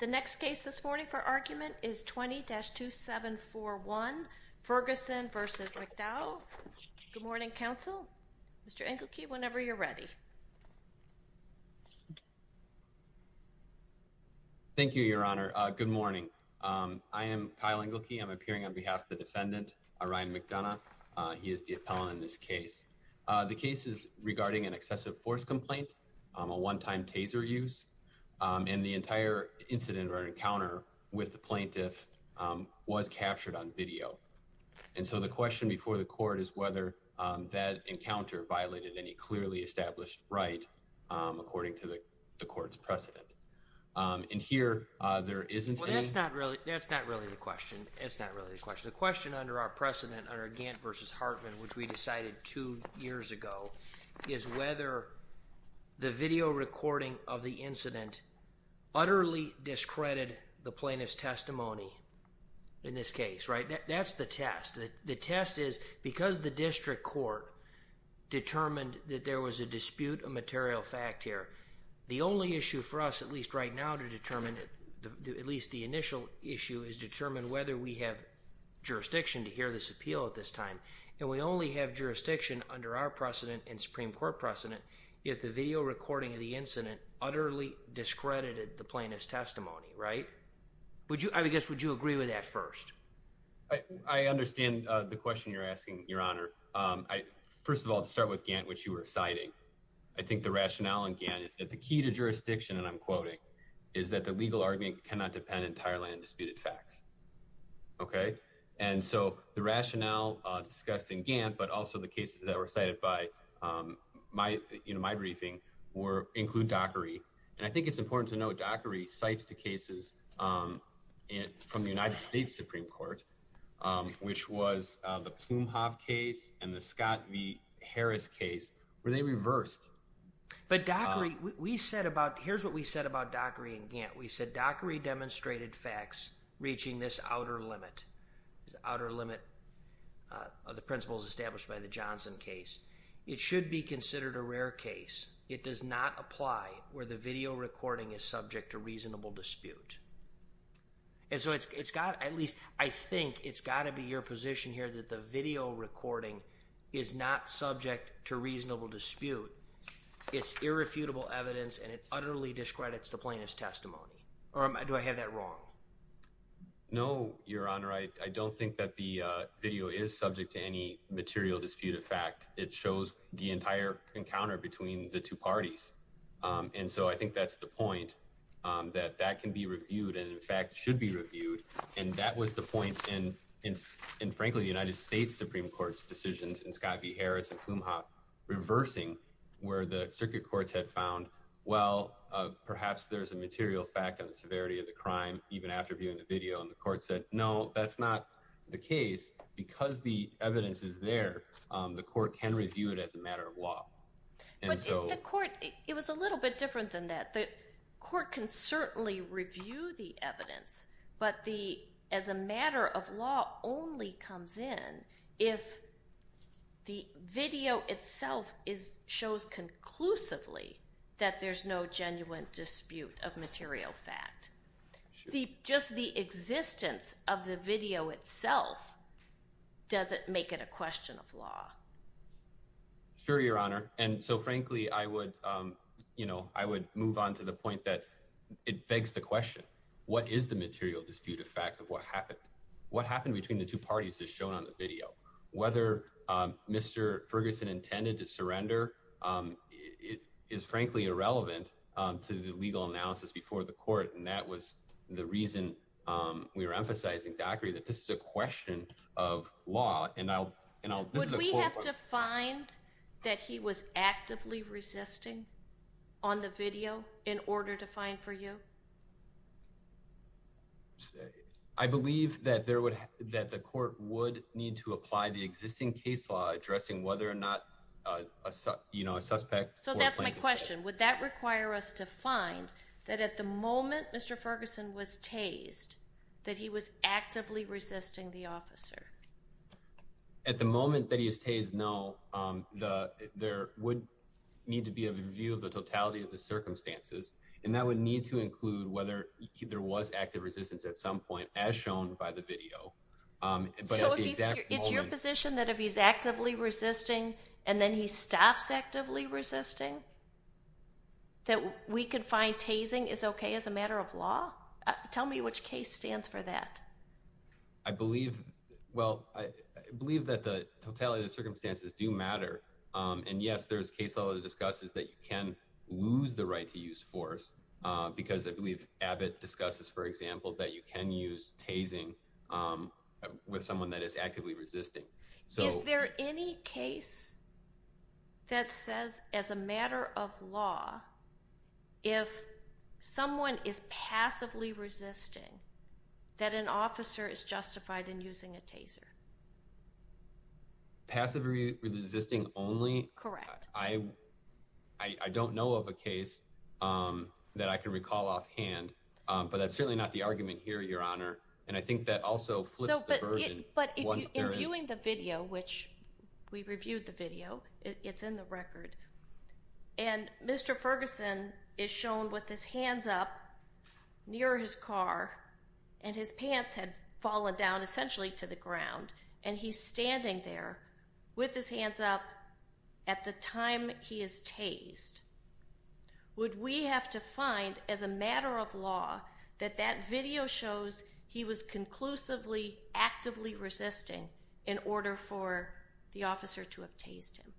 The next case this morning for argument is 20-2741, Ferguson v. McDowell. Good morning, counsel. Mr. Engelke, whenever you're ready. Thank you, Your Honor. Good morning. I am Kyle Engelke. I'm appearing on behalf of the defendant, Ryan McDonough. He is the appellant in this case. The case is regarding an excessive force complaint, a one-time taser use. And the entire incident or encounter with the plaintiff was captured on video. And so the question before the court is whether that encounter violated any clearly established right according to the court's precedent. And here, there isn't any… Well, that's not really the question. That's not really the question. The question under our precedent under Gantt v. Hartman, which we decided two years ago, is whether the video recording of the incident utterly discredited the plaintiff's testimony in this case, right? That's the test. The test is because the district court determined that there was a dispute of material fact here, the only issue for us, at least right now, to determine, at least the initial issue, is to determine whether we have jurisdiction to hear this appeal at this time. And we only have jurisdiction under our precedent and Supreme Court precedent if the video recording of the incident utterly discredited the plaintiff's testimony, right? I guess, would you agree with that first? I understand the question you're asking, Your Honor. First of all, to start with Gantt, which you were citing, I think the rationale in Gantt is that the key to jurisdiction, and I'm quoting, is that the legal argument cannot depend entirely on disputed facts. Okay? And so the rationale discussed in Gantt, but also the cases that were cited by my briefing, include Dockery. And I think it's important to note Dockery cites the cases from the United States Supreme Court, which was the Plumhoff case and the Scott v. Harris case, where they reversed. But Dockery, we said about, here's what we said about Dockery and Gantt. We said, Dockery demonstrated facts reaching this outer limit, this outer limit of the principles established by the Johnson case. It should be considered a rare case. It does not apply where the video recording is subject to reasonable dispute. And so it's got, at least I think it's got to be your position here, that the video recording is not subject to reasonable dispute. It's irrefutable evidence, and it utterly discredits the plaintiff's testimony. Or do I have that wrong? No, Your Honor. I don't think that the video is subject to any material dispute of fact. It shows the entire encounter between the two parties. And so I think that's the point, that that can be reviewed and, in fact, should be reviewed. And that was the point in, frankly, the United States Supreme Court's decisions, in Scott v. Harris and Plumhoff, reversing where the circuit courts had found, well, perhaps there's a material fact on the severity of the crime, even after viewing the video. And the court said, no, that's not the case. Because the evidence is there, the court can review it as a matter of law. But the court, it was a little bit different than that. The court can certainly review the evidence, but the, as a matter of law, only comes in if the video itself shows conclusively that there's no genuine dispute of material fact. Just the existence of the video itself doesn't make it a question of law. Sure, Your Honor. And so, frankly, I would, you know, I would move on to the point that it begs the question, what is the material dispute of fact of what happened? What happened between the two parties is shown on the video. Whether Mr. Ferguson intended to surrender is, frankly, irrelevant to the legal analysis before the court. And that was the reason we were emphasizing, Zachary, that this is a question of law. Would we have to find that he was actively resisting on the video in order to find for you? I believe that the court would need to apply the existing case law addressing whether or not, you know, a suspect. So that's my question. Would that require us to find that at the moment Mr. Ferguson was tased, that he was actively resisting the officer? At the moment that he is tased, no. There would need to be a review of the totality of the circumstances, and that would need to include whether there was active resistance at some point, as shown by the video. So it's your position that if he's actively resisting and then he stops actively resisting, that we could find tasing is okay as a matter of law? Tell me which case stands for that. I believe, well, I believe that the totality of the circumstances do matter. And yes, there's case law that discusses that you can lose the right to use force, because I believe Abbott discusses, for example, that you can use tasing with someone that is actively resisting. Is there any case that says, as a matter of law, if someone is passively resisting, that an officer is justified in using a taser? Passively resisting only? Correct. I don't know of a case that I can recall offhand, but that's certainly not the argument here, Your Honor. And I think that also flips the burden. But in viewing the video, which we reviewed the video, it's in the record, and Mr. Ferguson is shown with his hands up near his car, and his pants had fallen down essentially to the ground, and he's standing there with his hands up at the time he is tased. Would we have to find, as a matter of law, that that video shows he was conclusively actively resisting in order for the officer to have tased him?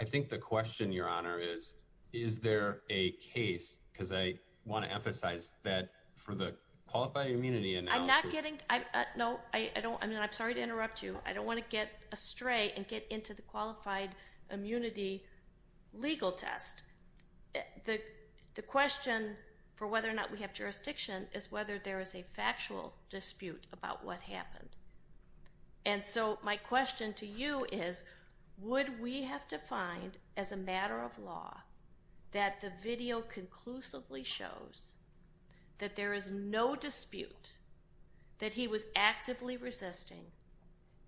I think the question, Your Honor, is, is there a case, because I want to emphasize that for the Qualified Immunity Analysis— I'm not getting—no, I don't—I mean, I'm sorry to interrupt you. I don't want to get astray and get into the Qualified Immunity legal test. The question for whether or not we have jurisdiction is whether there is a factual dispute about what happened. And so my question to you is, would we have to find, as a matter of law, that the video conclusively shows that there is no dispute that he was actively resisting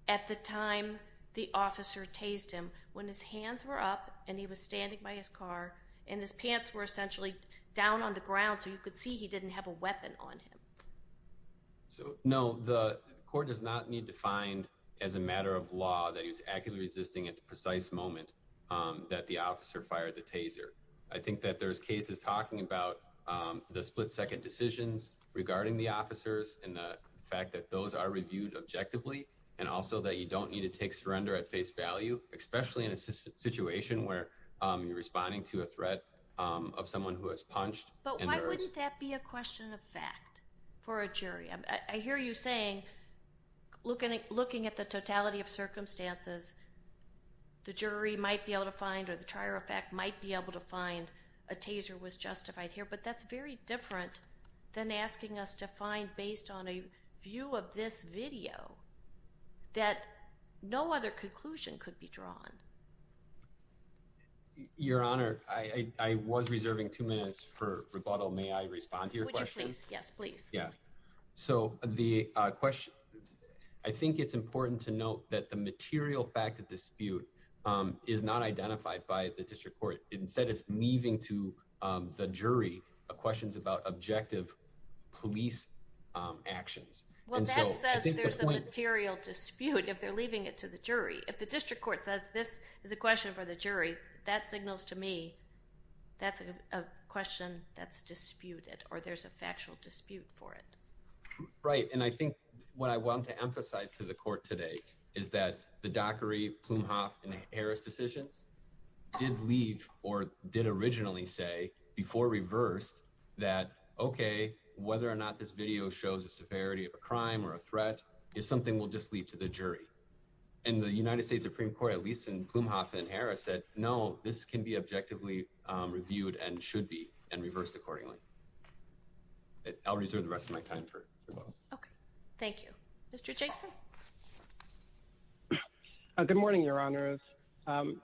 at the time the officer tased him, when his hands were up and he was standing by his car, and his pants were essentially down on the ground so you could see he didn't have a weapon on him? No, the court does not need to find, as a matter of law, that he was actively resisting at the precise moment that the officer fired the taser. I think that there's cases talking about the split-second decisions regarding the officers and the fact that those are reviewed objectively, and also that you don't need to take surrender at face value, especially in a situation where you're responding to a threat of someone who has punched. But why wouldn't that be a question of fact for a jury? I hear you saying, looking at the totality of circumstances, the jury might be able to find, or the trier of fact might be able to find, a taser was justified here. But that's very different than asking us to find, based on a view of this video, that no other conclusion could be drawn. Your Honor, I was reserving two minutes for rebuttal. May I respond to your question? Yes, please. I think it's important to note that the material fact of dispute is not identified by the district court. Instead, it's leaving to the jury questions about objective police actions. Well, that says there's a material dispute if they're leaving it to the jury. If the district court says this is a question for the jury, that signals to me that's a question that's disputed, or there's a factual dispute for it. Right, and I think what I want to emphasize to the court today is that the Dockery, Plumhoff, and Harris decisions did lead, or did originally say, before reversed, that, okay, whether or not this video shows a severity of a crime or a threat is something we'll just leave to the jury. And the United States Supreme Court, at least in Plumhoff and Harris, said, no, this can be objectively reviewed and should be, and reversed accordingly. I'll reserve the rest of my time for rebuttal. Okay, thank you. Mr. Jason? Good morning, Your Honors.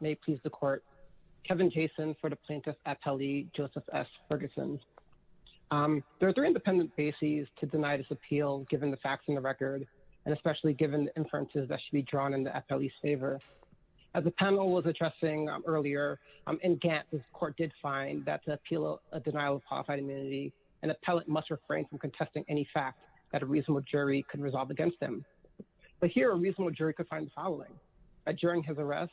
May it please the court. Kevin Jason for the Plaintiff Appellee, Joseph S. Ferguson. There are three independent bases to deny this appeal, given the facts in the record, and especially given the inferences that should be drawn in the appellee's favor. As the panel was addressing earlier, in Gantt, the court did find that to appeal a denial of qualified immunity, an appellate must refrain from contesting any fact that a reasonable jury can resolve against them. But here, a reasonable jury could find the following. That during his arrest,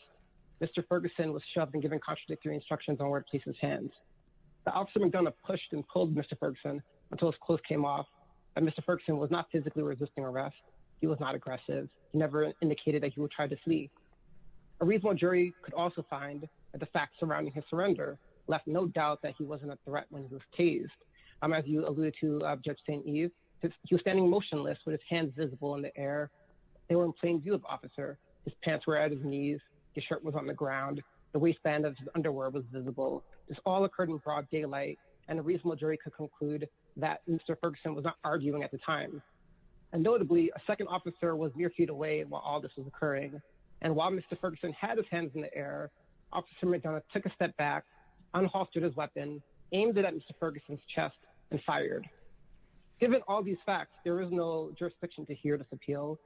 Mr. Ferguson was shoved and given contradictory instructions on where to place his hands. The officer McDonough pushed and pulled Mr. Ferguson until his clothes came off. And Mr. Ferguson was not physically resisting arrest. He was not aggressive. He never indicated that he would try to flee. A reasonable jury could also find that the facts surrounding his surrender left no doubt that he wasn't a threat when he was tased. As you alluded to, Judge St. Eve, he was standing motionless with his hands visible in the air. They were in plain view of the officer. His pants were at his knees. His shirt was on the ground. The waistband of his underwear was visible. This all occurred in broad daylight, and a reasonable jury could conclude that Mr. Ferguson was not arguing at the time. Notably, a second officer was mere feet away while all this was occurring. And while Mr. Ferguson had his hands in the air, Officer McDonough took a step back, unhalted his weapon, aimed it at Mr. Ferguson's chest, and fired. Given all these facts, there is no jurisdiction to hear this appeal.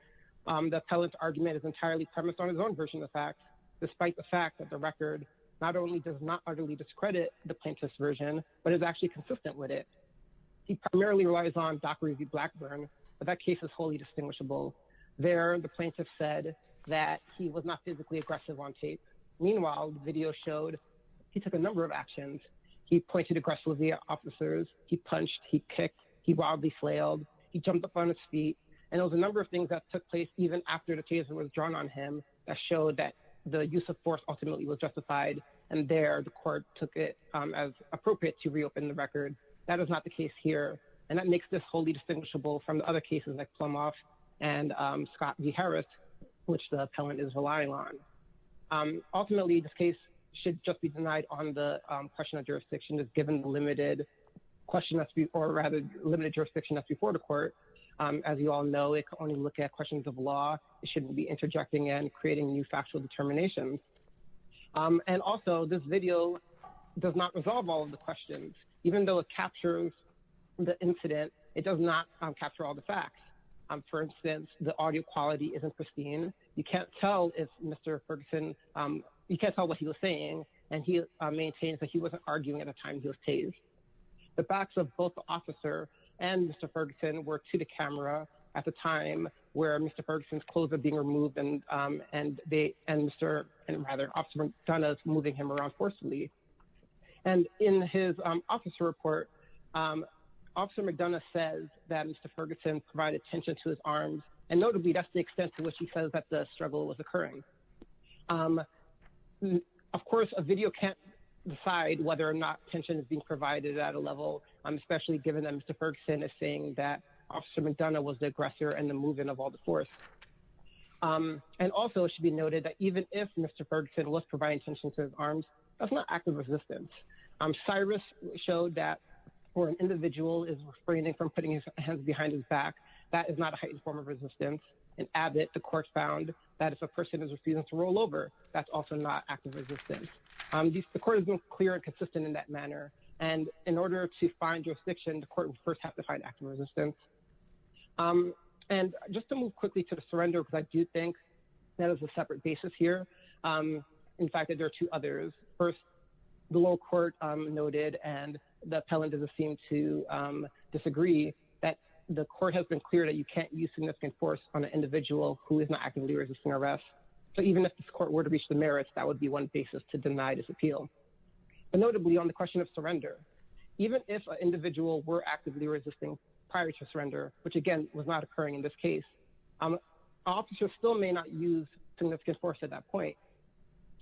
The appellant's argument is entirely premised on his own version of the facts, despite the fact that the record not only does not utterly discredit the plaintiff's version, but is actually consistent with it. He primarily relies on Dockery v. Blackburn, but that case is wholly distinguishable. There, the plaintiff said that he was not physically aggressive on tape. Meanwhile, the video showed he took a number of actions. He pointed aggressively at officers. He punched. He kicked. He wildly flailed. He jumped up on his feet. And there was a number of things that took place, even after the case was drawn on him, that showed that the use of force ultimately was justified. And there, the court took it as appropriate to reopen the record. That is not the case here. And that makes this wholly distinguishable from the other cases, like Plumhoff and Scott v. Harris, which the appellant is relying on. Ultimately, this case should just be denied on the question of jurisdiction, as given the limited jurisdiction that's before the court. As you all know, it can only look at questions of law. It shouldn't be interjecting and creating new factual determinations. And also, this video does not resolve all of the questions. Even though it captures the incident, it does not capture all the facts. For instance, the audio quality isn't pristine. You can't tell if Mr. Ferguson – you can't tell what he was saying. And he maintains that he wasn't arguing at a time he was tased. The facts of both the officer and Mr. Ferguson were to the camera at the time where Mr. Ferguson's clothes were being removed and Mr. – and, rather, Officer McDonough's moving him around forcefully. And in his officer report, Officer McDonough says that Mr. Ferguson provided tension to his arms, and notably, that's the extent to which he says that the struggle was occurring. Of course, a video can't decide whether or not tension is being provided at a level, especially given that Mr. Ferguson is saying that Officer McDonough was the aggressor in the moving of all the force. And also, it should be noted that even if Mr. Ferguson was providing tension to his arms, that's not active resistance. Cyrus showed that when an individual is refraining from putting his hands behind his back, that is not a heightened form of resistance. In Abbott, the court found that if a person is refusing to roll over, that's also not active resistance. The court has been clear and consistent in that manner. And in order to find jurisdiction, the court would first have to find active resistance. And just to move quickly to the surrender, because I do think that is a separate basis here. In fact, there are two others. First, the lower court noted, and the appellant doesn't seem to disagree, that the court has been clear that you can't use significant force on an individual who is not actively resisting arrest. So even if this court were to reach the merits, that would be one basis to deny this appeal. And notably, on the question of surrender, even if an individual were actively resisting prior to surrender, which again was not occurring in this case, officers still may not use significant force at that point.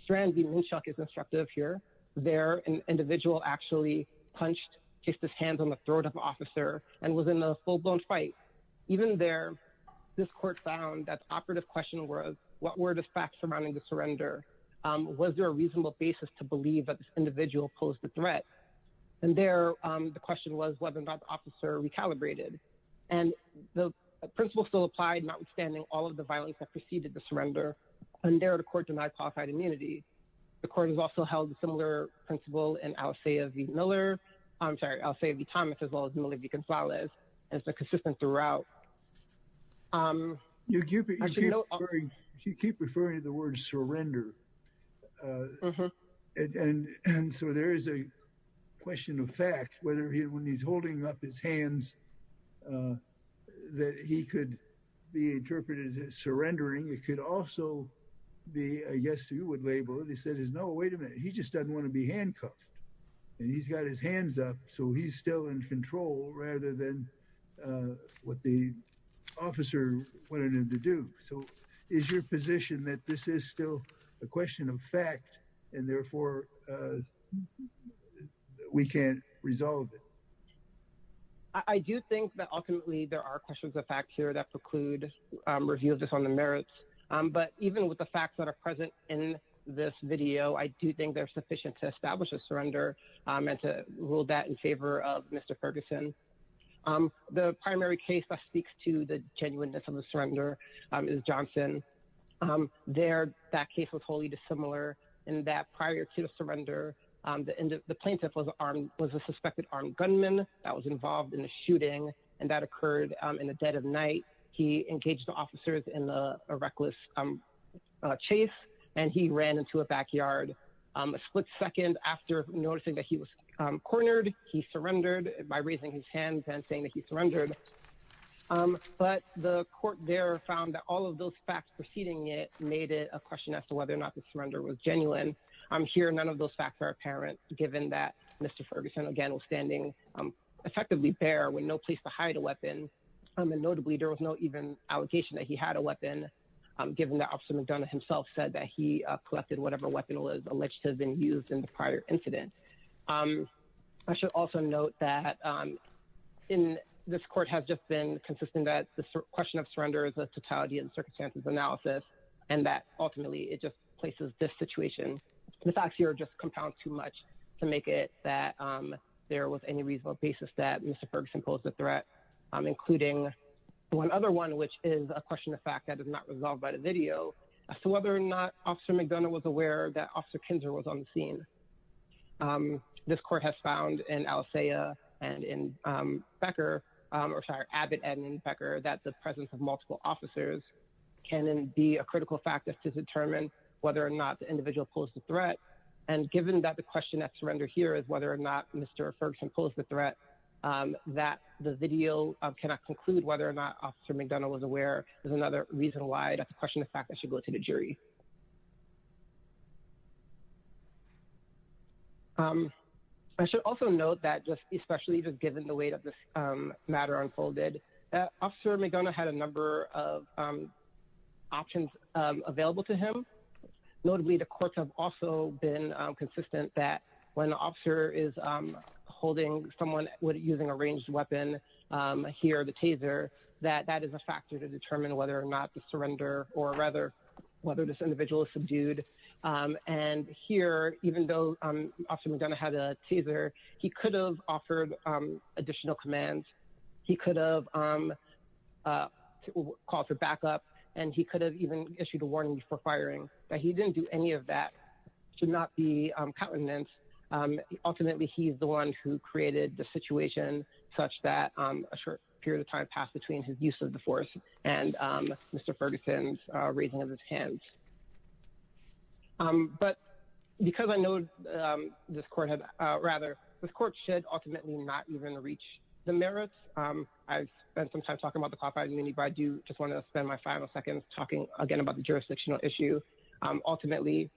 Strand v. Minshuk is instructive here. There, an individual actually punched, placed his hands on the throat of an officer, and was in a full-blown fight. Even there, this court found that the operative question was, what were the facts surrounding the surrender? Was there a reasonable basis to believe that this individual posed a threat? And there, the question was whether or not the officer recalibrated. And the principle still applied, notwithstanding all of the violence that preceded the surrender. And there, the court denied qualified immunity. The court has also held a similar principle in Alcea v. Miller. I'm sorry, Alcea v. Thomas, as well as Miller v. Gonzalez. And it's been consistent throughout. You keep referring to the word surrender. And so there is a question of fact, whether when he's holding up his hands, he's still in control. And I'm wondering, it could also be, I guess you would label it, he says, no, wait a minute, he just doesn't want to be handcuffed. And he's got his hands up, so he's still in control, rather than what the officer wanted him to do. So is your position that this is still a question of fact, and therefore we can't resolve it? I do think that ultimately there are questions of fact here that preclude review of this on the merits. But even with the facts that are present in this video, I do think they're sufficient to establish a surrender and to rule that in favor of Mr. Ferguson. The primary case that speaks to the genuineness of the surrender is Johnson. There, that case was wholly dissimilar in that prior to the surrender, the plaintiff was a suspected armed gunman that was involved in a shooting, and that occurred in the dead of night. He engaged the officers in a reckless chase, and he ran into a backyard. A split second after noticing that he was cornered, he surrendered by raising his hands and saying that he surrendered. But the court there found that all of those facts preceding it made it a question as to whether or not the surrender was genuine. And here, none of those facts are apparent, given that Mr. Ferguson, again, was standing effectively bare with no place to hide a weapon. And notably, there was no even allegation that he had a weapon, given that Officer McDonough himself said that he collected whatever weapon was alleged to have been used in the prior incident. I should also note that this court has just been consistent that the question of surrender is a totality and circumstances analysis, and that ultimately it just places this situation. The facts here just compound too much to make it that there was any reasonable basis that Mr. Ferguson posed a threat, including one other one, which is a question of fact that is not resolved by the video, as to whether or not Officer McDonough was aware that Officer Kinzer was on the scene. This court has found in Alisaiah and in Becker, or sorry, Abbott and Becker, that the presence of multiple officers can be a critical factor to determine whether or not the individual posed the threat. And given that the question at surrender here is whether or not Mr. Ferguson posed the threat, that the video cannot conclude whether or not Officer McDonough was aware is another reason why that's a question of fact that should go to the jury. I should also note that, especially just given the way that this matter unfolded, Officer McDonough had a number of options available to him. Notably, the courts have also been consistent that when the officer is holding someone using a ranged weapon here, the taser, that that is a factor to determine whether or not to surrender or rather whether this individual is subdued. And here, even though Officer McDonough had a taser, he could have offered additional commands. He could have called for backup and he could have even issued a warning before firing, but he didn't do any of that should not be countenance. Ultimately, he's the one who created the situation such that a short period of time passed between his use of the force and Mr. Ferguson's raising of his hands. But because I know this court had rather, this court should ultimately not even reach the merits. I've spent some time talking about the copyright immunity, but I do just want to spend my final seconds talking again about the jurisdictional issue. Ultimately,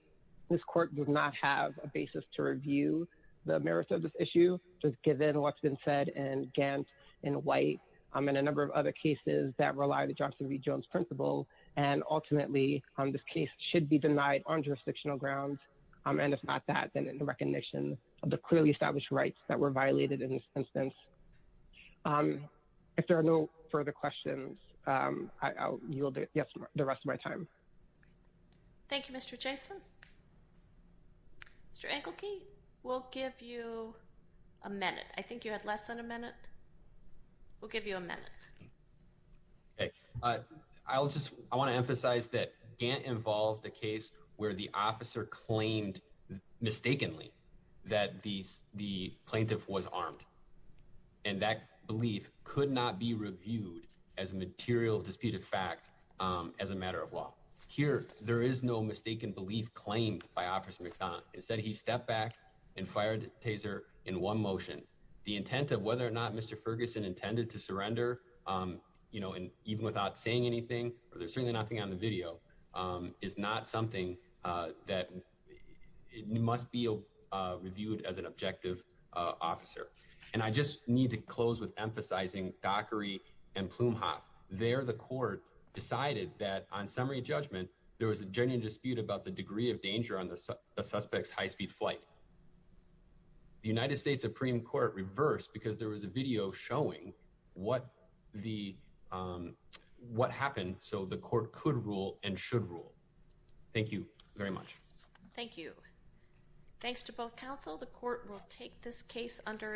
this court does not have a basis to review the merits of this issue. Just given what's been said and Gant in white, I'm in a number of other cases that rely on the Johnson V Jones principle. And ultimately this case should be denied on jurisdictional grounds. And if not that, then it should be left in the recognition of the clearly established rights that were violated in this instance. If there are no further questions, I'll yield it the rest of my time. Thank you, Mr. Jason. Mr. Engelke, we'll give you a minute. I think you had less than a minute. We'll give you a minute. I'll just, I want to emphasize that Gantt involved a case where the officer claimed mistakenly that the plaintiff was armed. And that belief could not be reviewed as a material disputed fact as a matter of law. Here, there is no mistaken belief claimed by Officer McDonald. Instead, he stepped back and fired taser in one motion. The intent of whether or not Mr. Ferguson intended to surrender, you know, and even without saying anything, or there's certainly nothing on the video is not something that it must be reviewed as an objective officer. And I just need to close with emphasizing Dockery and Plume Hoff there. The court decided that on summary judgment, there was a genuine dispute about the degree of danger on the suspect's high-speed flight. The United States Supreme court reversed because there was a video showing what the, what happened. So the court could rule and should rule. Thank you very much. Thank you. Thanks to both counsel. The court will take this case under advisement.